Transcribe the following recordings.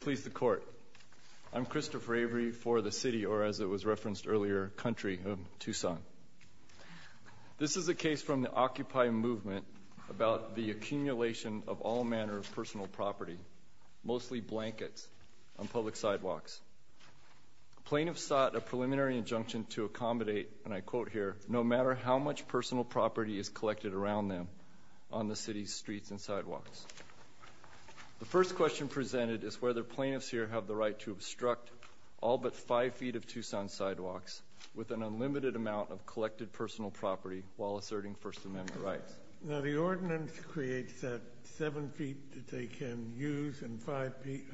Please the court. I'm Christopher Avery for the City, or as it was referenced earlier, Country of Tucson. This is a case from the Occupy movement about the accumulation of all manner of personal property, mostly blankets, on public sidewalks. Plaintiffs sought a preliminary injunction to accommodate, and I quote here, no matter how much personal property is collected around them on the city's streets and sidewalks. The first question presented is whether plaintiffs here have the right to obstruct all but 5 feet of Tucson sidewalks with an unlimited amount of collected personal property while asserting First Amendment rights. Now the ordinance creates that 7 feet that they can use and 5 feet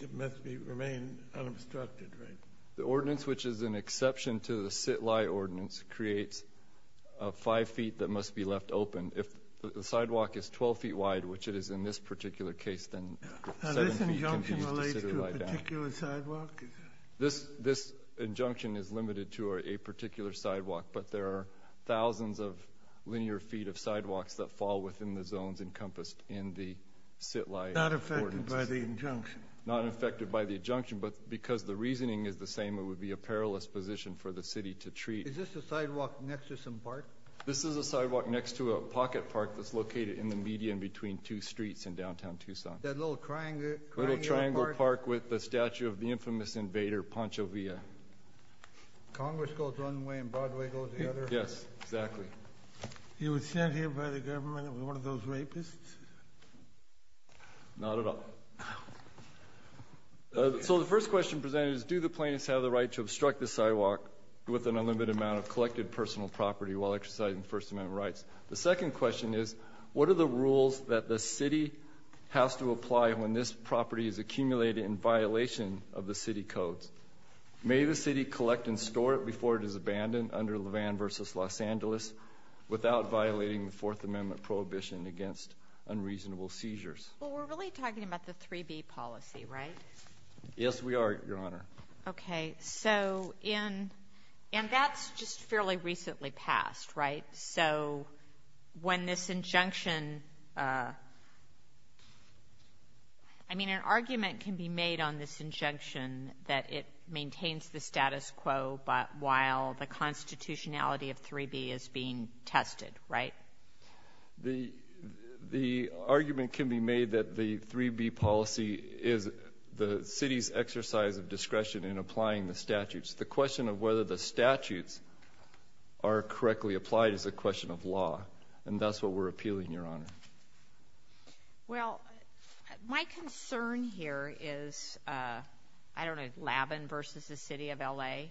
that must remain unobstructed, right? The ordinance, which is an exception to the sit-lie ordinance, creates 5 feet that must be left open. If the sidewalk is 12 feet wide, which it is in this particular case, then 7 feet can be used to sit-lie down. Now this injunction relates to a particular sidewalk? This injunction is limited to a particular sidewalk, but there are thousands of linear feet of sidewalks that fall within the zones encompassed in the sit-lie ordinance. Not affected by the injunction? Not affected by the injunction, but because the reasoning is the same, it would be a perilous position for the city to treat. Is this a sidewalk next to some park? This is a sidewalk next to a pocket park that's located in the median between two streets in downtown Tucson. That little triangle park with the statue of the infamous invader, Pancho Villa. Congress goes one way and Broadway goes the other? Yes, exactly. He was sent here by the government as one of those rapists? Not at all. So the first question presented is do the plaintiffs have the right to obstruct the sidewalk with an unlimited amount of collected personal property while exercising First Amendment rights? The second question is what are the rules that the city has to apply when this property is accumulated in violation of the city codes? May the city collect and store it before it is abandoned under Levan v. Los Angeles without violating the Fourth Amendment prohibition against unreasonable seizures? Well, we're really talking about the 3B policy, right? Yes, we are, Your Honor. Okay. So in ñ and that's just fairly recently passed, right? So when this injunction ñ I mean, an argument can be made on this injunction that it maintains the status quo while the constitutionality of 3B is being tested, right? The argument can be made that the 3B policy is the city's exercise of discretion in applying the statutes. The question of whether the statutes are correctly applied is a question of law, and that's what we're appealing, Your Honor. Well, my concern here is, I don't know, Levan v. the city of L.A.?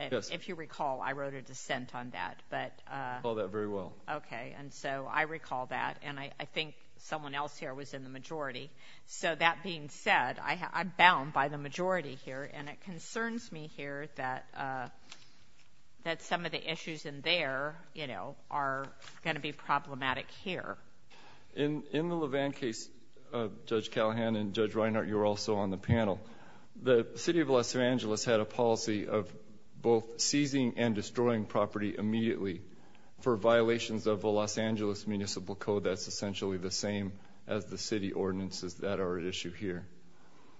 Yes. If you recall, I wrote a dissent on that, but ñ Okay. And so I recall that, and I think someone else here was in the majority. So that being said, I'm bound by the majority here, and it concerns me here that some of the issues in there, you know, are going to be problematic here. In the Levan case, Judge Callahan and Judge Reinhart, you were also on the panel. The city of Los Angeles had a policy of both seizing and destroying property immediately for violations of a Los Angeles municipal code that's essentially the same as the city ordinances that are at issue here.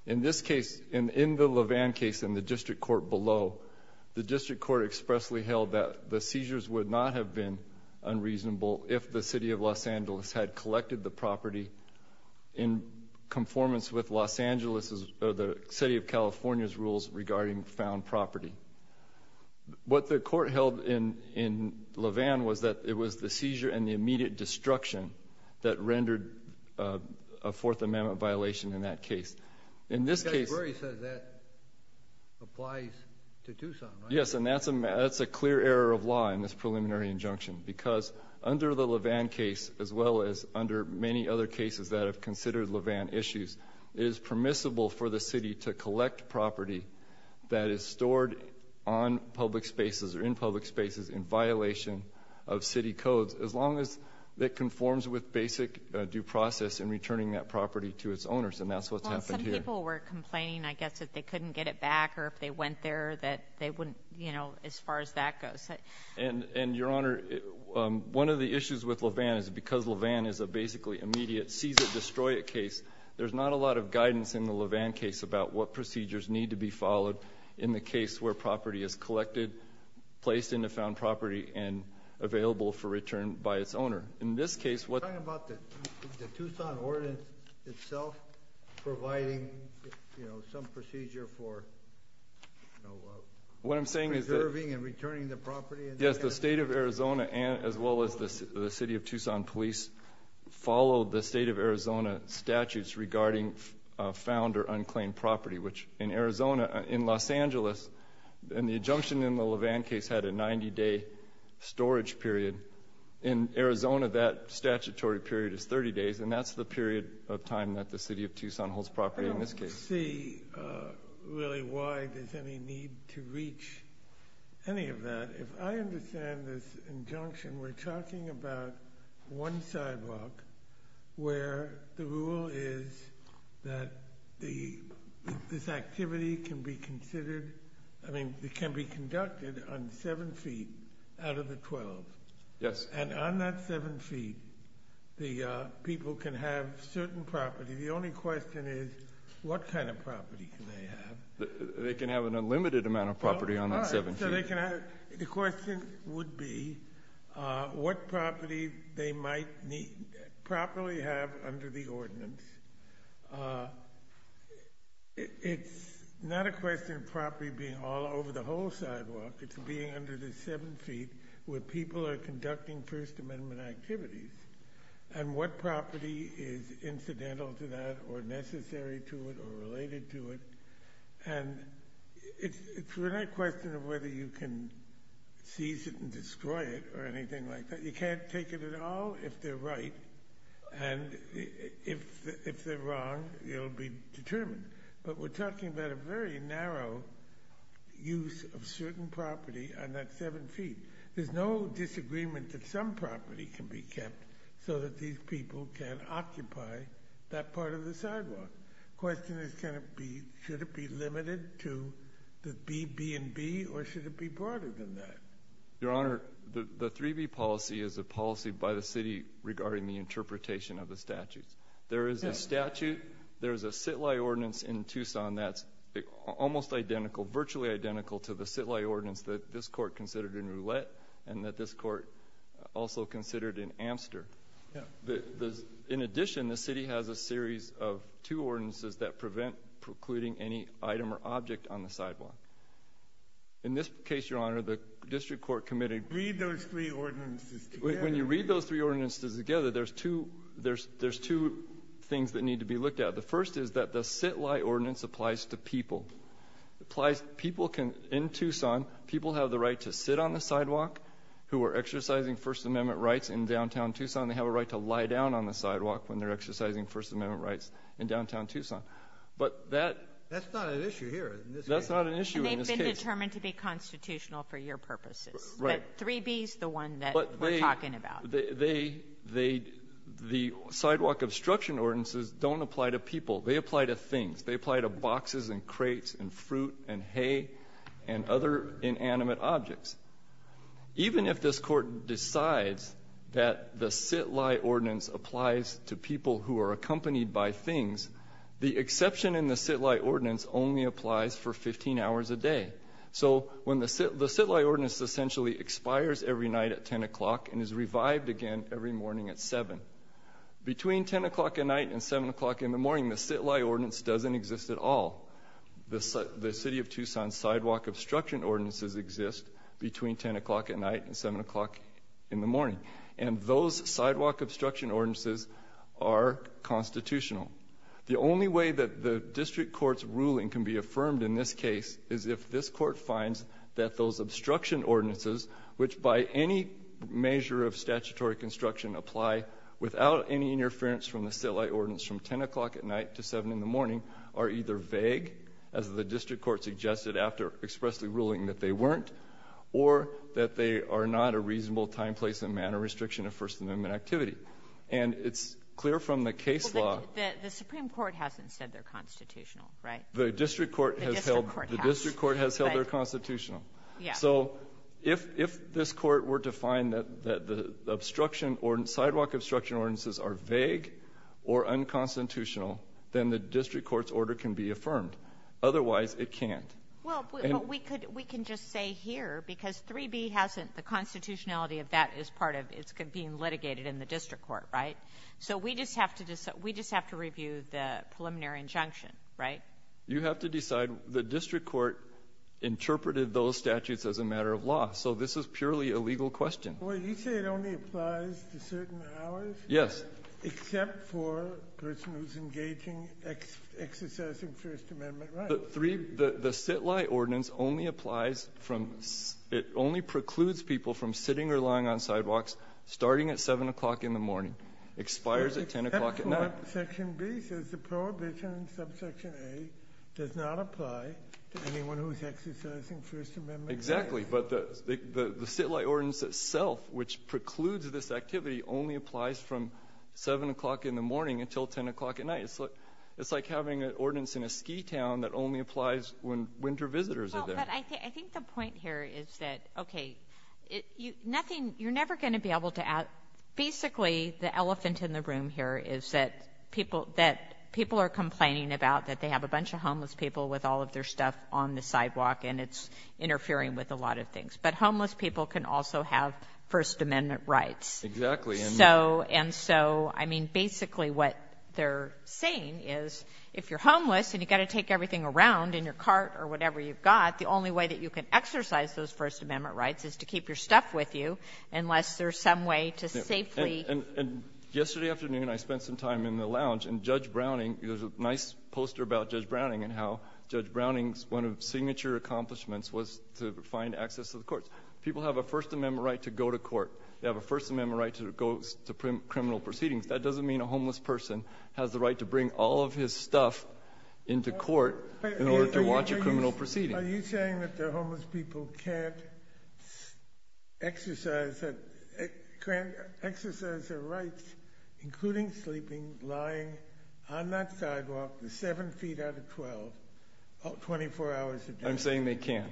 In this case, in the Levan case in the district court below, the district court expressly held that the seizures would not have been unreasonable if the city of Los Angeles had collected the property in conformance with Los Angeles's or the city of California's rules regarding found property. What the court held in Levan was that it was the seizure and the immediate destruction that rendered a Fourth Amendment violation in that case. In this case ñ Judge Brey says that applies to Tucson, right? Yes, and that's a clear error of law in this preliminary injunction because under the Levan case as well as under many other cases that have considered Levan issues, it is permissible for the city to collect property that is stored on public spaces or in public spaces in violation of city codes as long as it conforms with basic due process in returning that property to its owners, and that's what's happened here. Well, and some people were complaining, I guess, that they couldn't get it back or if they went there that they wouldn't, you know, as far as that goes. And, Your Honor, one of the issues with Levan is because Levan is a basically immediate seize-it-destroy-it case, there's not a lot of guidance in the Levan case about what procedures need to be followed in the case where property is collected, placed into found property, and available for return by its owner. In this case, what ñ Are you talking about the Tucson ordinance itself providing, you know, some procedure for, you know, preserving and returning the property? Yes, the state of Arizona as well as the city of Tucson police followed the state of Arizona statutes regarding found or unclaimed property, which in Arizona, in Los Angeles, and the injunction in the Levan case had a 90-day storage period. In Arizona, that statutory period is 30 days, and that's the period of time that the city of Tucson holds property in this case. I don't see really why there's any need to reach any of that. If I understand this injunction, we're talking about one sidewalk where the rule is that the ñ this activity can be considered ñ I mean, it can be conducted on 7 feet out of the 12. Yes. And on that 7 feet, the people can have certain property. The only question is what kind of property can they have? They can have an unlimited amount of property on that 7 feet. So they can have ñ the question would be what property they might properly have under the ordinance. It's not a question of property being all over the whole sidewalk. It's being under the 7 feet where people are conducting First Amendment activities and what property is incidental to that or necessary to it or related to it. And it's really a question of whether you can seize it and destroy it or anything like that. You can't take it at all if they're right, and if they're wrong, it'll be determined. But we're talking about a very narrow use of certain property on that 7 feet. There's no disagreement that some property can be kept so that these people can occupy that part of the sidewalk. The question is can it be ñ should it be limited to the B, B, and B, or should it be broader than that? Your Honor, the 3B policy is a policy by the city regarding the interpretation of the statutes. There is a statute, there is a sit-lie ordinance in Tucson that's almost identical, virtually identical to the sit-lie ordinance that this Court considered in Roulette and that this Court also considered in Amster. In addition, the city has a series of two ordinances that prevent precluding any item or object on the sidewalk. In this case, Your Honor, the district court committed ñ Read those three ordinances together. When you read those three ordinances together, there's two things that need to be looked at. The first is that the sit-lie ordinance applies to people. It applies ñ people can ñ in Tucson, people have the right to sit on the sidewalk who are exercising First Amendment rights in downtown Tucson. They have a right to lie down on the sidewalk when they're exercising First Amendment rights in downtown Tucson. But that ñ That's not an issue here in this case. That's not an issue in this case. And they've been determined to be constitutional for your purposes. Right. But 3B is the one that we're talking about. But they ñ they ñ the sidewalk obstruction ordinances don't apply to people. They apply to things. They apply to boxes and crates and fruit and hay and other inanimate objects. Even if this Court decides that the sit-lie ordinance applies to people who are accompanied by things, the exception in the sit-lie ordinance only applies for 15 hours a day. So when the ñ the sit-lie ordinance essentially expires every night at 10 o'clock and is revived again every morning at 7. Between 10 o'clock at night and 7 o'clock in the morning, the sit-lie ordinance doesn't exist at all. The city of Tucson's sidewalk obstruction ordinances exist between 10 o'clock at night and 7 o'clock in the morning. And those sidewalk obstruction ordinances are constitutional. The only way that the district court's ruling can be affirmed in this case is if this Court finds that those obstruction ordinances, which by any measure of statutory construction apply without any interference from the sit-lie ordinance from 10 o'clock at night to 7 in the morning, are either vague, as the district court suggested after expressly ruling that they weren't, or that they are not a reasonable time, place, and manner restriction of First Amendment activity. And it's clear from the case law ñ Kagan. Well, the ñ the supreme court hasn't said they're constitutional, right? The district court has held ñ The district court has. The district court has held they're constitutional. So if ñ if this Court were to find that the obstruction ñ sidewalk obstruction ordinances are vague or unconstitutional, then the district court's order can be affirmed. Otherwise, it can't. And ñ Well, we could ñ we can just say here, because 3b hasn't ñ the constitutionality of that is part of ñ it's being litigated in the district court, right? So we just have to ñ we just have to review the preliminary injunction, right? You have to decide. The district court interpreted those statutes as a matter of law. So this is purely a legal question. Well, you say it only applies to certain hours? Yes. Except for a person who's engaging, exercising First Amendment rights. The three ñ the sit-lie ordinance only applies from ñ it only precludes people from sitting or lying on sidewalks starting at 7 o'clock in the morning, expires at 10 o'clock at night. But section B says the prohibition in subsection A does not apply to anyone who's exercising First Amendment rights. Exactly. But the sit-lie ordinance itself, which precludes this activity, only applies from 7 o'clock in the morning until 10 o'clock at night. So it's like having an ordinance in a ski town that only applies when winter visitors are there. Well, but I think the point here is that, okay, nothing ñ you're never going to be able to ñ basically, the elephant in the room here is that people ñ that people are complaining about that they have a bunch of homeless people with all of their stuff on the sidewalk, and it's interfering with a lot of things. But homeless people can also have First Amendment rights. Exactly. And so ñ and so, I mean, basically what they're saying is, if you're homeless and you've got to take everything around in your cart or whatever you've got, the only way that you can exercise those First Amendment rights is to keep your stuff with you unless there's some way to safely ñ And yesterday afternoon, I spent some time in the lounge, and Judge Browning ñ there's a nice poster about Judge Browning and how Judge Browning's one of his signature accomplishments was to find access to the courts. People have a First Amendment right to go to court. They have a First Amendment right to go to criminal proceedings. That doesn't mean a homeless person has the right to bring all of his stuff into court in order to watch a criminal proceeding. Are you saying that the homeless people can't exercise their rights, including sleeping, lying on that sidewalk, 7 feet out of 12, 24 hours a day? I'm saying they can.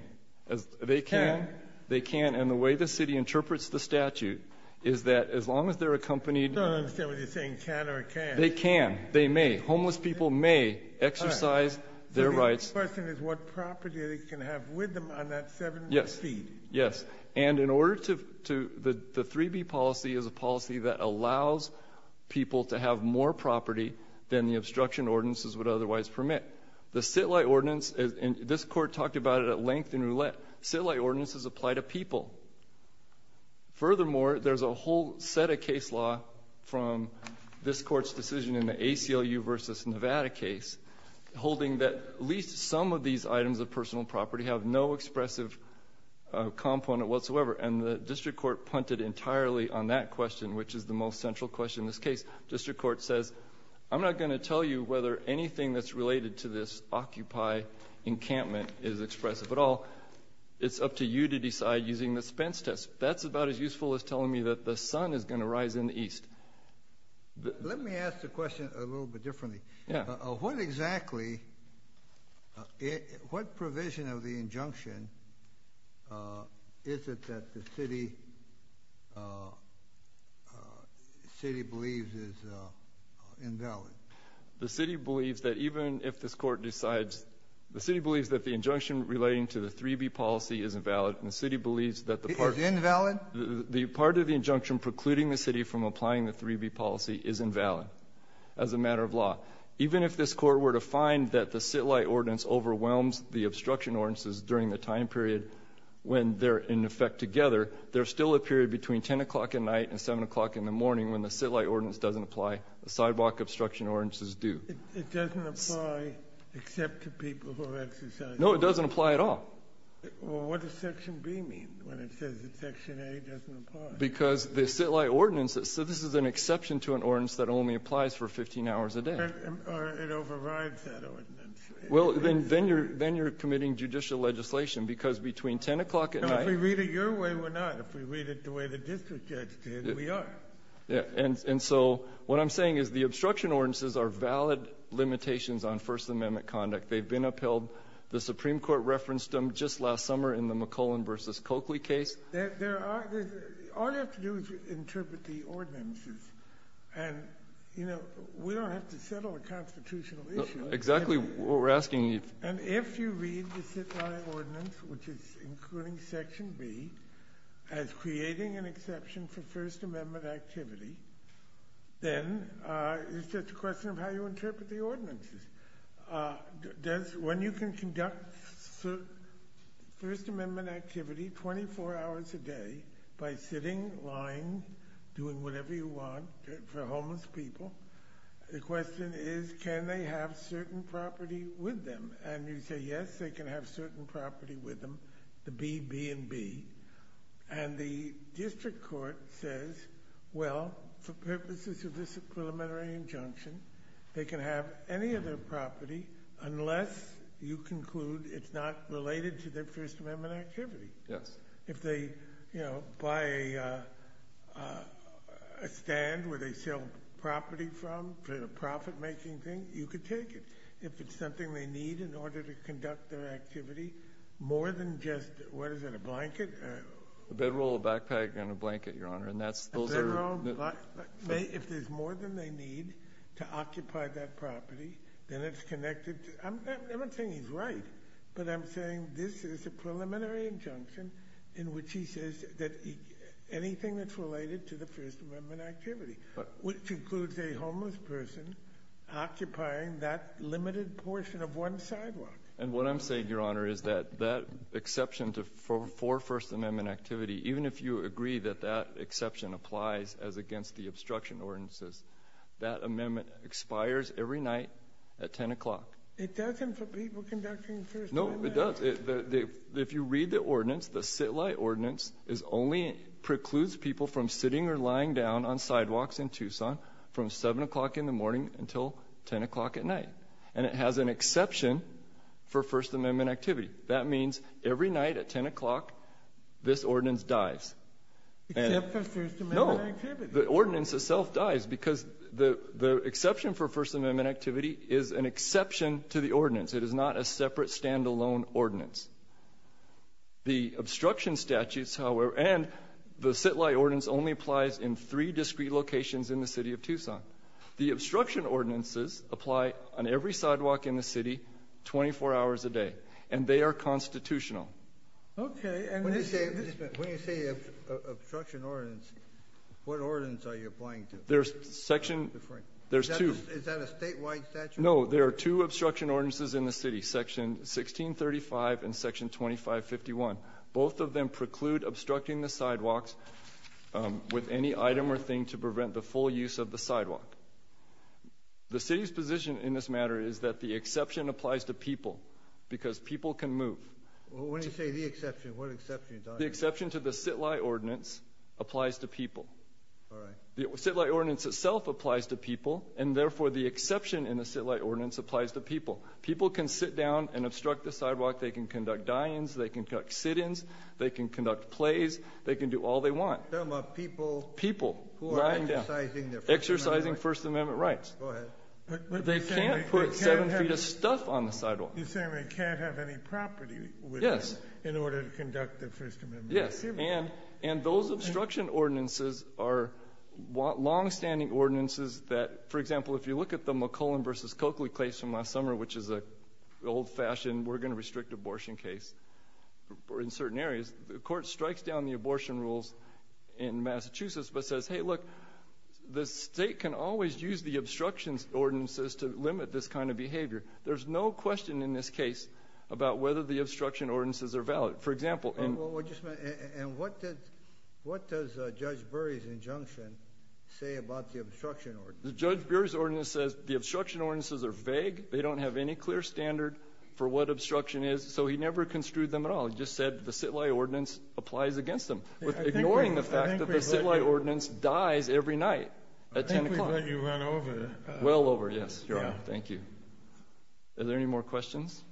They can? They can. And the way the city interprets the statute is that as long as they're accompanied ñ I don't understand what you're saying, can or can't. They can. They may. Homeless people may exercise their rights. The question is what property they can have with them on that 7 feet. Yes. And in order to ñ the 3B policy is a policy that allows people to have more property than the obstruction ordinances would otherwise permit. The sit-lie ordinance ñ and this Court talked about it at length in Roulette. Sit-lie ordinances apply to people. Furthermore, there's a whole set of case law from this Court's decision in the ACLU v. Nevada case holding that at least some of these items of personal property have no expressive component whatsoever. And the district court punted entirely on that question, which is the most central question in this case. District court says, I'm not going to tell you whether anything that's related to this Occupy encampment is expressive at all. It's up to you to decide using the Spence test. That's about as useful as telling me that the sun is going to rise in the east. Let me ask the question a little bit differently. Yeah. What exactly ñ what provision of the injunction is it that the city believes is invalid? The city believes that even if this Court decides ñ the city believes that the injunction relating to the 3B policy is invalid, and the city believes that the part ñ Is invalid? The part of the injunction precluding the city from applying the 3B policy is invalid as a matter of law. Even if this Court were to find that the sit-lie ordinance overwhelms the obstruction ordinances during the time period when they're in effect together, there's still a period between 10 o'clock at night and 7 o'clock in the morning when the sit-lie ordinance doesn't apply, the sidewalk obstruction ordinances do. It doesn't apply except to people who have exercised ñ No, it doesn't apply at all. Well, what does Section B mean when it says that Section A doesn't apply? Because the sit-lie ordinance ñ so this is an exception to an ordinance that only applies for 15 hours a day. Or it overrides that ordinance. Well, then you're ñ then you're committing judicial legislation, because between 10 o'clock at night ñ No, if we read it your way, we're not. If we read it the way the district judge did, we are. And so what I'm saying is the obstruction ordinances are valid limitations on First Amendment conduct. They've been upheld. The Supreme Court referenced them just last summer in the McClellan v. Coakley case. There are ñ all you have to do is interpret the ordinances. And, you know, we don't have to settle a constitutional issue. Exactly what we're asking you. And if you read the sit-lie ordinance, which is including Section B, as creating an exception for First Amendment activity, then it's just a question of how you interpret the ordinances. Does ñ when you can conduct First Amendment activity 24 hours a day by sitting, lying, doing whatever you want for homeless people, the question is, can they have certain property with them? And you say, yes, they can have certain property with them, the B, B, and B. And the district court says, well, for purposes of this preliminary injunction, they can have any of their property unless you conclude it's not related to their First Amendment activity. Yes. If they, you know, buy a stand where they sell property from for a profit-making thing, you could take it. If it's something they need in order to conduct their activity, more than just ñ what is it, a blanket? A bedroll, a backpack, and a blanket, Your Honor. And that's ñ those are ñ Well, if there's more than they need to occupy that property, then it's connected to ñ I'm not saying he's right, but I'm saying this is a preliminary injunction in which he says that anything that's related to the First Amendment activity, which includes a homeless person occupying that limited portion of one sidewalk. And what I'm saying, Your Honor, is that that exception for First Amendment activity, even if you agree that that exception applies as against the obstruction ordinances, that amendment expires every night at 10 o'clock. It doesn't for people conducting First Amendment? No, it does. If you read the ordinance, the sit-lie ordinance is only ñ precludes people from sitting or lying down on sidewalks in Tucson from 7 o'clock in the morning until 10 o'clock at night. And it has an exception for First Amendment activity. That means every night at 10 o'clock, this ordinance dies. Except for First Amendment activity. No. The ordinance itself dies because the exception for First Amendment activity is an exception to the ordinance. It is not a separate, stand-alone ordinance. The obstruction statutes, however ñ and the sit-lie ordinance only applies in three discrete locations in the City of Tucson. The obstruction ordinances apply on every Okay. And when you say ñ when you say obstruction ordinance, what ordinance are you applying to? There's section ñ there's two. Is that a statewide statute? No. There are two obstruction ordinances in the City, Section 1635 and Section 2551. Both of them preclude obstructing the sidewalks with any item or thing to prevent the full use of the sidewalk. The City's position in this matter is that the exception applies to people because people can move. Well, when you say the exception, what exception are you talking about? The exception to the sit-lie ordinance applies to people. All right. The sit-lie ordinance itself applies to people, and therefore the exception in the sit-lie ordinance applies to people. People can sit down and obstruct the sidewalk. They can conduct die-ins. They can conduct sit-ins. They can conduct plays. They can do all they want. Tell them about people. People. Who are exercising their First Amendment rights. Exercising First Amendment rights. Go ahead. But they can't put seven feet of stuff on the sidewalk. You're saying they can't have any property. Yes. In order to conduct their First Amendment rights. Yes. And those obstruction ordinances are long-standing ordinances that, for example, if you look at the McClellan v. Coakley case from last summer, which is an old-fashioned, we're going to restrict abortion case in certain areas, the Court strikes down the abortion rules in Massachusetts but says, hey, look, the State can always use the obstruction ordinances to limit this kind of behavior. There's no question in this case about whether the obstruction ordinances are valid. For example... Well, just a minute. And what does Judge Bury's injunction say about the obstruction ordinance? Judge Bury's ordinance says the obstruction ordinances are vague. They don't have any clear standard for what obstruction is. So he never construed them at all. He just said the sit-lie ordinance applies against them, ignoring the fact that the sit-lie ordinance dies every night at 10 o'clock. I think we've let you run over. Well over, yes, Your Honor. Thank you. Are there any more questions?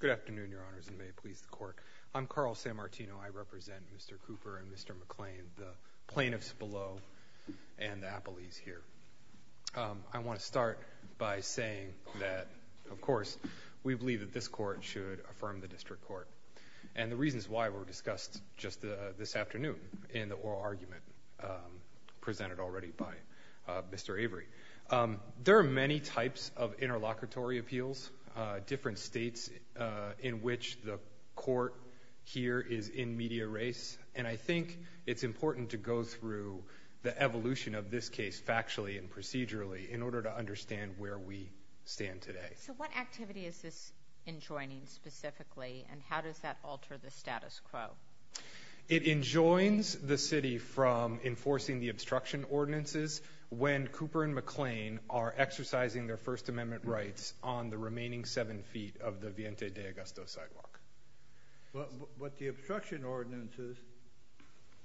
Good afternoon, Your Honors, and may it please the Court. I'm Carl Sammartino. I represent Mr. Cooper and Mr. McClain, the plaintiffs below and the appellees here. I want to start by saying that, of course, we believe that this Court should affirm the District Court, and the reasons why were discussed just this afternoon in the oral argument presented already by Mr. Avery. There are many types of interlocutory appeals, different States in which the Court here is in media race, and I think it's important to go through the evolution of this case factually and procedurally in order to understand where we stand today. So what activity is this enjoining specifically, and how does that alter the status quo? It enjoins the City from enforcing the obstruction ordinances when Cooper and McClain are exercising their First Amendment rights on the remaining seven feet of the Viente de Augusto sidewalk. But the obstruction ordinances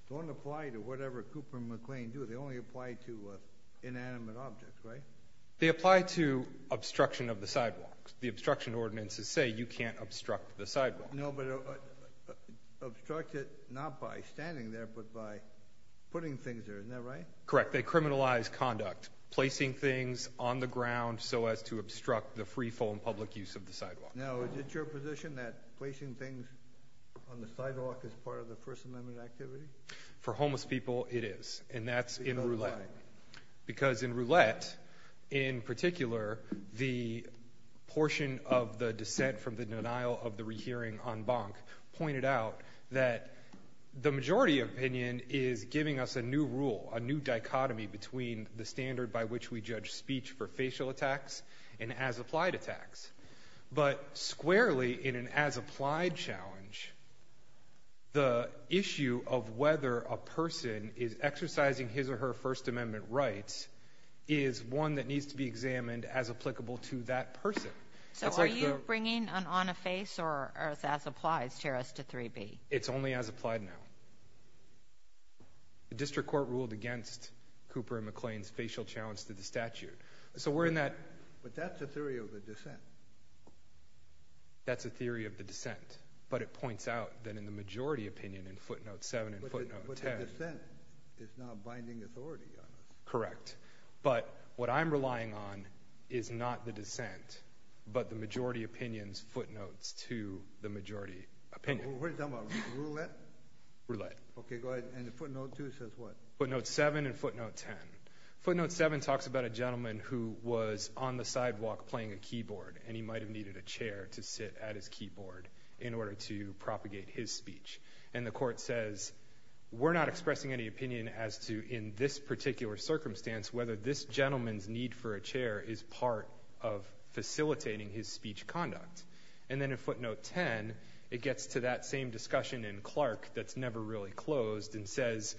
don't apply to whatever Cooper and McClain do. They only apply to inanimate objects, right? They apply to obstruction of the sidewalk. The obstruction ordinances say you can't obstruct the sidewalk. No, but obstruct it not by standing there, but by putting things there. Isn't that right? Correct. They criminalize conduct, placing things on the ground so as to obstruct the free, full, and public use of the sidewalk. Now, is it your position that placing things on the sidewalk is part of the First Amendment activity? For homeless people, it is, and that's in roulette. Because in roulette, in particular, the portion of the dissent from the denial of the rehearing on Bonk pointed out that the majority opinion is giving us a new rule, a new dichotomy between the standard by which we judge speech for facial attacks and as-applied attacks. But squarely, in an as-applied challenge, the issue of whether a person is exercising his or her First Amendment rights is one that needs to be examined as applicable to that person. So are you bringing an on-the-face or as-applies to 3B? It's only as-applied now. The district court ruled against Cooper and McClain's facial challenge to the statute. So we're in that. But that's a theory of the dissent. That's a theory of the dissent. But it points out that in the majority opinion in footnote 7 and footnote 10. But the dissent is now binding authority on us. Correct. But what I'm relying on is not the dissent, but the majority opinion's footnotes to the majority opinion. We're talking about roulette? Roulette. Okay, go ahead. And footnote 2 says what? Footnote 7 and footnote 10. Footnote 7 talks about a gentleman who was on the sidewalk playing a keyboard, and he might have needed a chair to sit at his keyboard in order to propagate his speech. And the court says, we're not expressing any opinion as to, in this particular circumstance, whether this gentleman's need for a chair is part of facilitating his speech conduct. And then in footnote 10, it gets to that same discussion in Clark that's never really closed and says,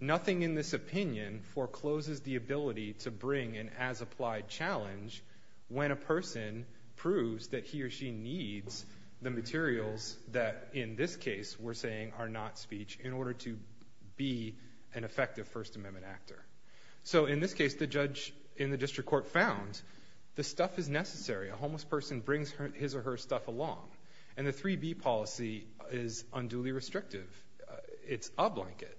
nothing in this opinion forecloses the ability to bring an as-applied challenge when a person proves that he or she needs the materials that in this case we're saying are not speech in order to be an effective First Amendment actor. So in this case, the judge in the district court found the stuff is necessary. A homeless person brings his or her stuff along. And the 3B policy is unduly restrictive. It's a blanket.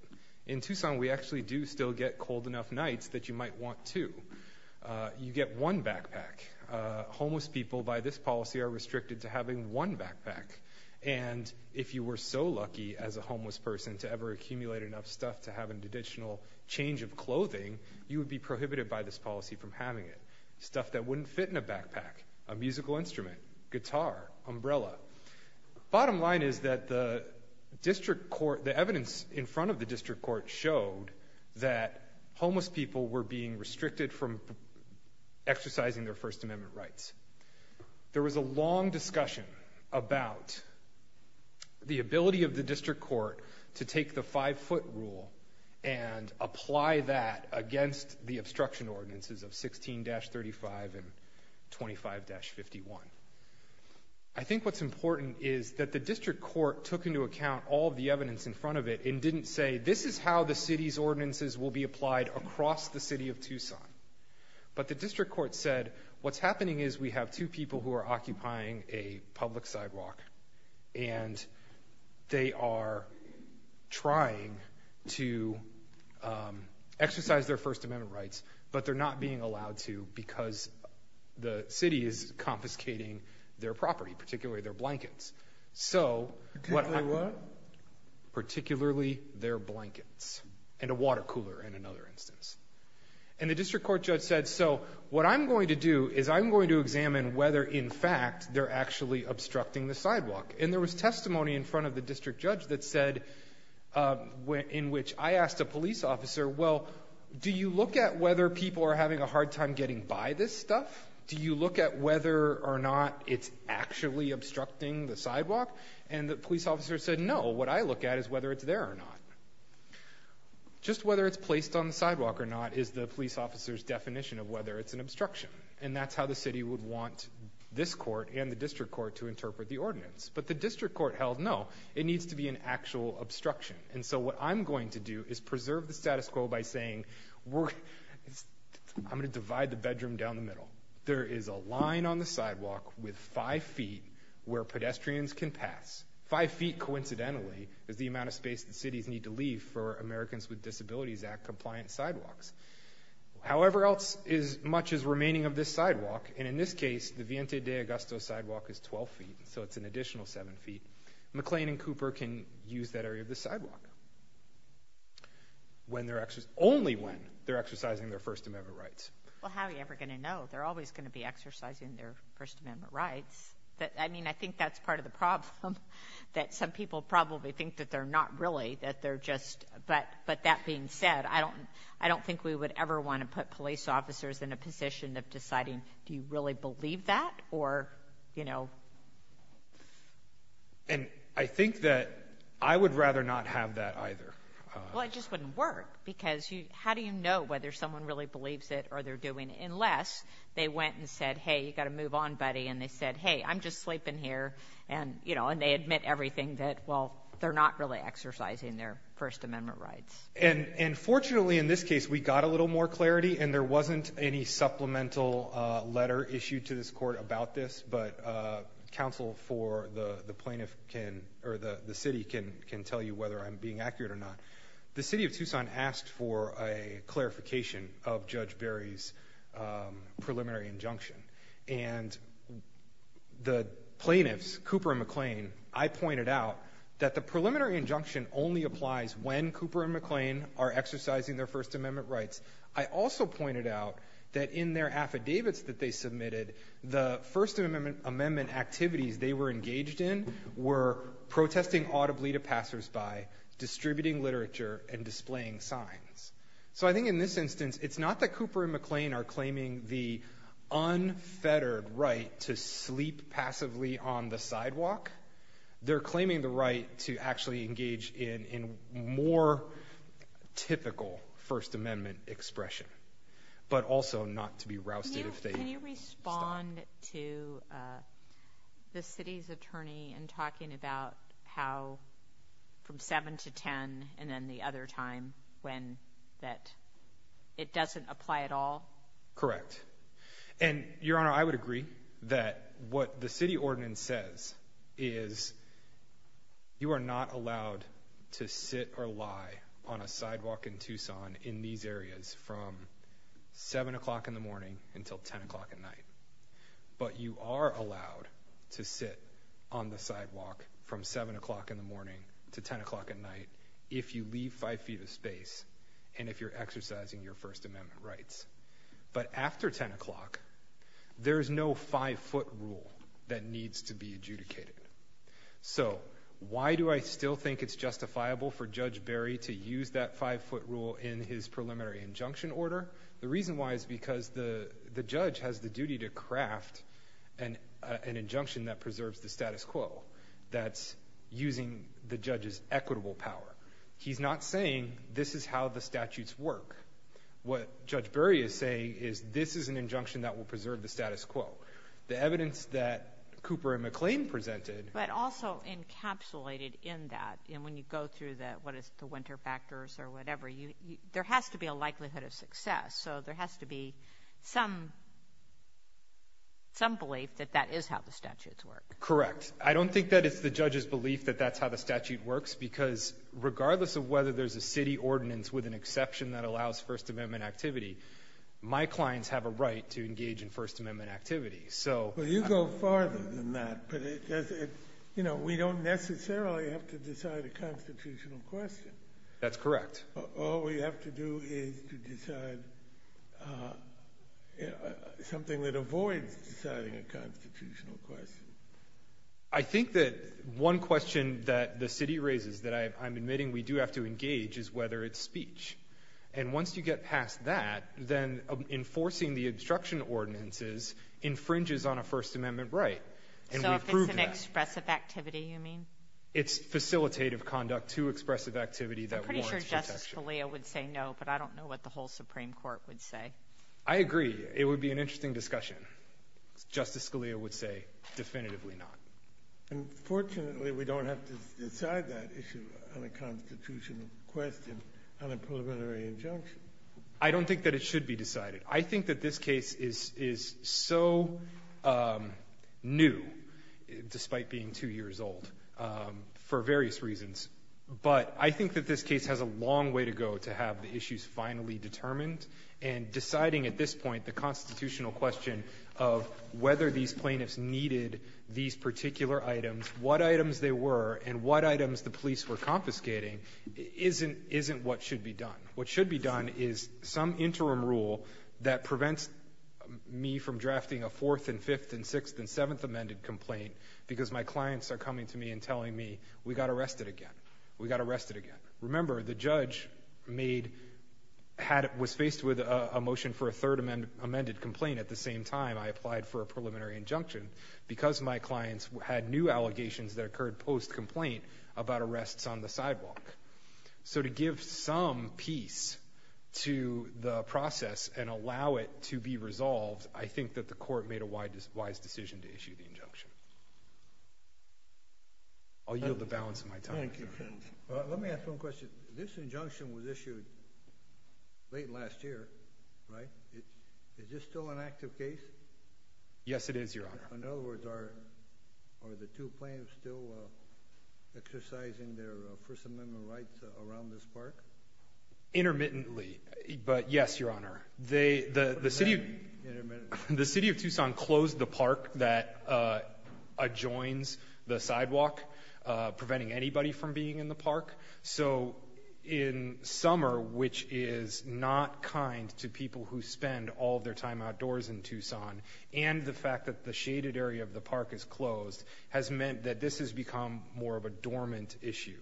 In Tucson, we actually do still get cold enough nights that you might want two. You get one backpack. Homeless people, by this policy, are restricted to having one backpack. And if you were so lucky as a homeless person to ever accumulate enough stuff to have an additional change of clothing, you would be prohibited by this policy from having it. Stuff that wouldn't fit in a backpack, a musical instrument, guitar, umbrella. Bottom line is that the evidence in front of the district court showed that homeless people were being restricted from exercising their First Amendment rights. There was a long discussion about the ability of the district court to take the five-foot rule and apply that against the obstruction ordinances of 16-35 and 25-51. I think what's important is that the district court took into account all the evidence in front of it and didn't say, this is how the city's ordinances will be applied across the city of Tucson. But the district court said, what's happening is we have two people who are occupying a public sidewalk, and they are trying to exercise their First Amendment rights, but they're not being allowed to because the city is confiscating their property, particularly their blankets. So, particularly what? Particularly their blankets and a water cooler, in another instance. And the district court judge said, so what I'm going to do is I'm going to examine whether, in fact, they're actually obstructing the sidewalk. And there was testimony in front of the district judge that said, in which I asked a police officer, well, do you look at whether people are having a hard time getting by this stuff? Do you look at whether or not it's actually obstructing the sidewalk? And the police officer said, no, what I look at is whether it's there or not. Just whether it's placed on the sidewalk or not is the police officer's definition of whether it's an obstruction. And that's how the city would want this court and the district court to interpret the ordinance. But the district court held, no, it needs to be an actual obstruction. And so what I'm going to do is preserve the status quo by saying, I'm going to divide the bedroom down the middle. There is a line on the sidewalk with five feet where pedestrians can pass. Five feet, coincidentally, is the amount of space that cities need to leave for Americans with Disabilities Act compliant sidewalks. However much is remaining of this sidewalk, and in this case, the Vientia de Augusto sidewalk is 12 feet, so it's an additional seven feet. McLean and Cooper can use that area of the sidewalk only when they're exercising their First Amendment rights. Well, how are you ever going to know? They're always going to be exercising their First Amendment rights. I mean, I think that's part of the problem, that some people probably think that they're not really, that they're just... But that being said, I don't think we would ever want to put police officers in a position of deciding, do you really believe that, or, you know... And I think that I would rather not have that either. Well, it just wouldn't work, because how do you know whether someone really believes it or they're doing it, unless they went and said, hey, you've got to move on, buddy, and they said, hey, I'm just sleeping here, and, you know, and they admit everything that, well, they're not really exercising their First Amendment rights. And fortunately, in this case, we got a little more clarity, and there wasn't any supplemental letter issued to this Court about this, but counsel for the plaintiff can, or the city can tell you whether I'm being accurate or not. The city of Tucson asked for a clarification of Judge Berry's preliminary injunction, and the plaintiffs, Cooper and McLean, I pointed out that the preliminary injunction only applies when Cooper and McLean are exercising their First Amendment rights. I also pointed out that in their affidavits that they submitted, the First Amendment activities they were engaged in were protesting audibly to passersby, distributing literature, and displaying signs. So I think in this instance, it's not that Cooper and McLean are claiming the unfettered right to sleep passively on the sidewalk. They're claiming the right to actually engage in more typical First Amendment expression, but also not to be rousted if they stop. Can you respond to the city's attorney in talking about how from 7 to 10 and then the other time when that it doesn't apply at all? Correct. Your Honor, I would agree that what the city ordinance says is you are not allowed to sit or lie on a sidewalk in Tucson in these areas from 7 o'clock in the morning until 10 o'clock at night. But you are allowed to sit on the sidewalk from 7 o'clock in the morning to 10 o'clock at night if you leave five feet of space and if you're exercising your First Amendment rights. But after 10 o'clock, there is no five-foot rule that needs to be adjudicated. So why do I still think it's justifiable for Judge Barry to use that five-foot rule in his preliminary injunction order? The reason why is because the judge has the duty to craft an injunction that preserves the status quo that's using the judge's equitable power. He's not saying this is how the statutes work. What Judge Barry is saying is this is an injunction that will preserve the status quo. The evidence that Cooper and McLean presented But also encapsulated in that, you know, when you go through what is the winter factors or whatever, there has to be a likelihood of success. So there has to be some belief that that is how the statutes work. Correct. I don't think that it's the judge's belief that that's how the statute works, because regardless of whether there's a city ordinance with an exception that allows First Amendment activity, my clients have a right to engage in First Amendment activity. Well, you go farther than that, but, you know, we don't necessarily have to decide a constitutional question. That's correct. All we have to do is to decide something that avoids deciding a constitutional question. I think that one question that the city raises that I'm admitting we do have to engage is whether it's speech. And once you get past that, then enforcing the obstruction ordinances infringes on a First Amendment right. So if it's an expressive activity, you mean? It's facilitative conduct to expressive activity that warrants protection. I'm pretty sure Justice Scalia would say no, but I don't know what the whole Supreme Court would say. I agree. It would be an interesting discussion. Justice Scalia would say definitively not. Unfortunately, we don't have to decide that issue on a constitutional question on a preliminary injunction. I don't think that it should be decided. I think that this case is so new, despite being two years old, for various reasons. But I think that this case has a long way to go to have the issues finally determined, and deciding at this point the constitutional question of whether these plaintiffs needed these particular items, what items they were, and what items the police were confiscating isn't what should be done. What should be done is some interim rule that prevents me from drafting a Fourth and Fifth and Sixth and Seventh Amendment complaint because my clients are coming to me and telling me, we got arrested again. We got arrested again. Remember, the judge was faced with a motion for a third amended complaint at the same time I applied for a preliminary injunction because my clients had new allegations that occurred post-complaint about arrests on the sidewalk. So to give some peace to the process and allow it to be resolved, I think that the Court made a wise decision to issue the injunction. I'll yield the balance of my time. Thank you. Let me ask one question. This injunction was issued late last year, right? Is this still an active case? Yes, it is, Your Honor. In other words, are the two plaintiffs still exercising their First Amendment rights around this park? Intermittently, but yes, Your Honor. They, the city of Tucson closed the park that adjoins the sidewalk, preventing anybody from being in the park. So in summer, which is not kind to people who spend all their time outdoors in Tucson and the fact that the shaded area of the park is closed has meant that this has become more of a dormant issue,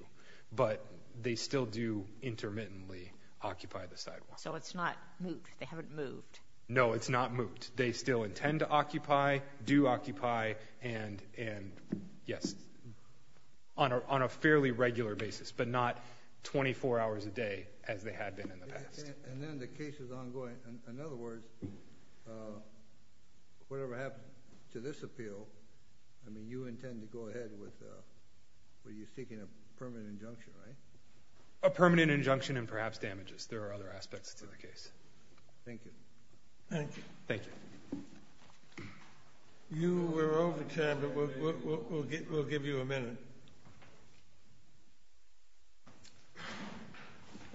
but they still do intermittently occupy the sidewalk. So it's not moot. They haven't moved. No, it's not moot. They still intend to occupy, do occupy, and, yes, on a fairly regular basis, but not 24 hours a day as they had been in the past. And then the case is ongoing. In other words, whatever happened to this appeal, I mean, you intend to go ahead with what you're seeking, a permanent injunction, right? A permanent injunction and perhaps damages. There are other aspects to the case. Thank you. Thank you. Thank you. You were over time, but we'll give you a minute.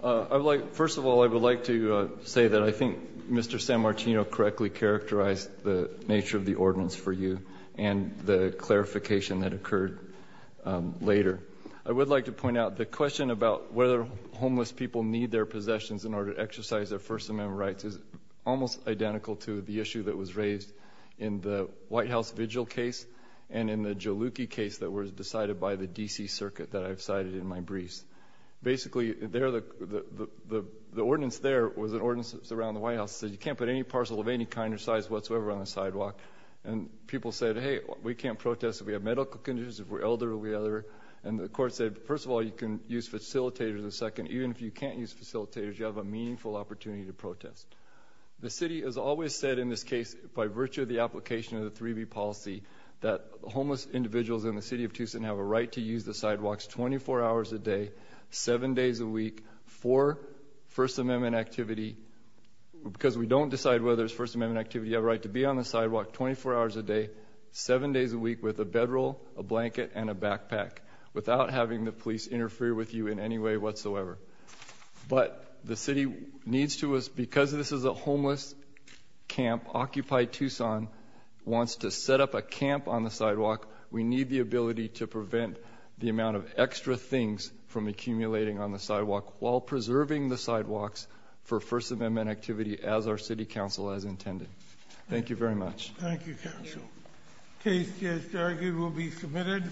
I would like, first of all, I would like to say that I think Mr. San Martino correctly characterized the nature of the ordinance for you and the clarification that occurred later. I would like to point out the question about whether homeless people need their possessions in order to exercise their First Amendment rights is almost identical to the issue that was raised in the White House Vigil case and in the Jalouki case that was decided by the D.C. Circuit that I've cited in my briefs. Basically, the ordinance there was an ordinance that was around the White House that said you can't put any parcel of any kind or size whatsoever on the sidewalk. And people said, hey, we can't protest if we have medical conditions, if we're elderly or whatever. And the Court said, first of all, you can use facilitators. Second, even if you can't use facilitators, you have a meaningful opportunity to protest. The City has always said in this case, by virtue of the application of the 3B policy, that homeless individuals in the City of Tucson have a right to use the sidewalks 24 hours a day, 7 days a week for First Amendment activity, because we don't decide whether it's First Amendment activity. You have a right to be on the sidewalk 24 hours a day, 7 days a week with a bedroll, a blanket, and a backpack, without having the police interfere with you in any way whatsoever. But the City needs to, because this is a homeless camp, Occupy Tucson wants to set up a camp on the sidewalk. We need the ability to prevent the amount of extra things from accumulating on the sidewalk, while preserving the sidewalks for First Amendment activity, as our City Council has intended. Thank you very much. Thank you, Counsel. The case, as argued, will be submitted.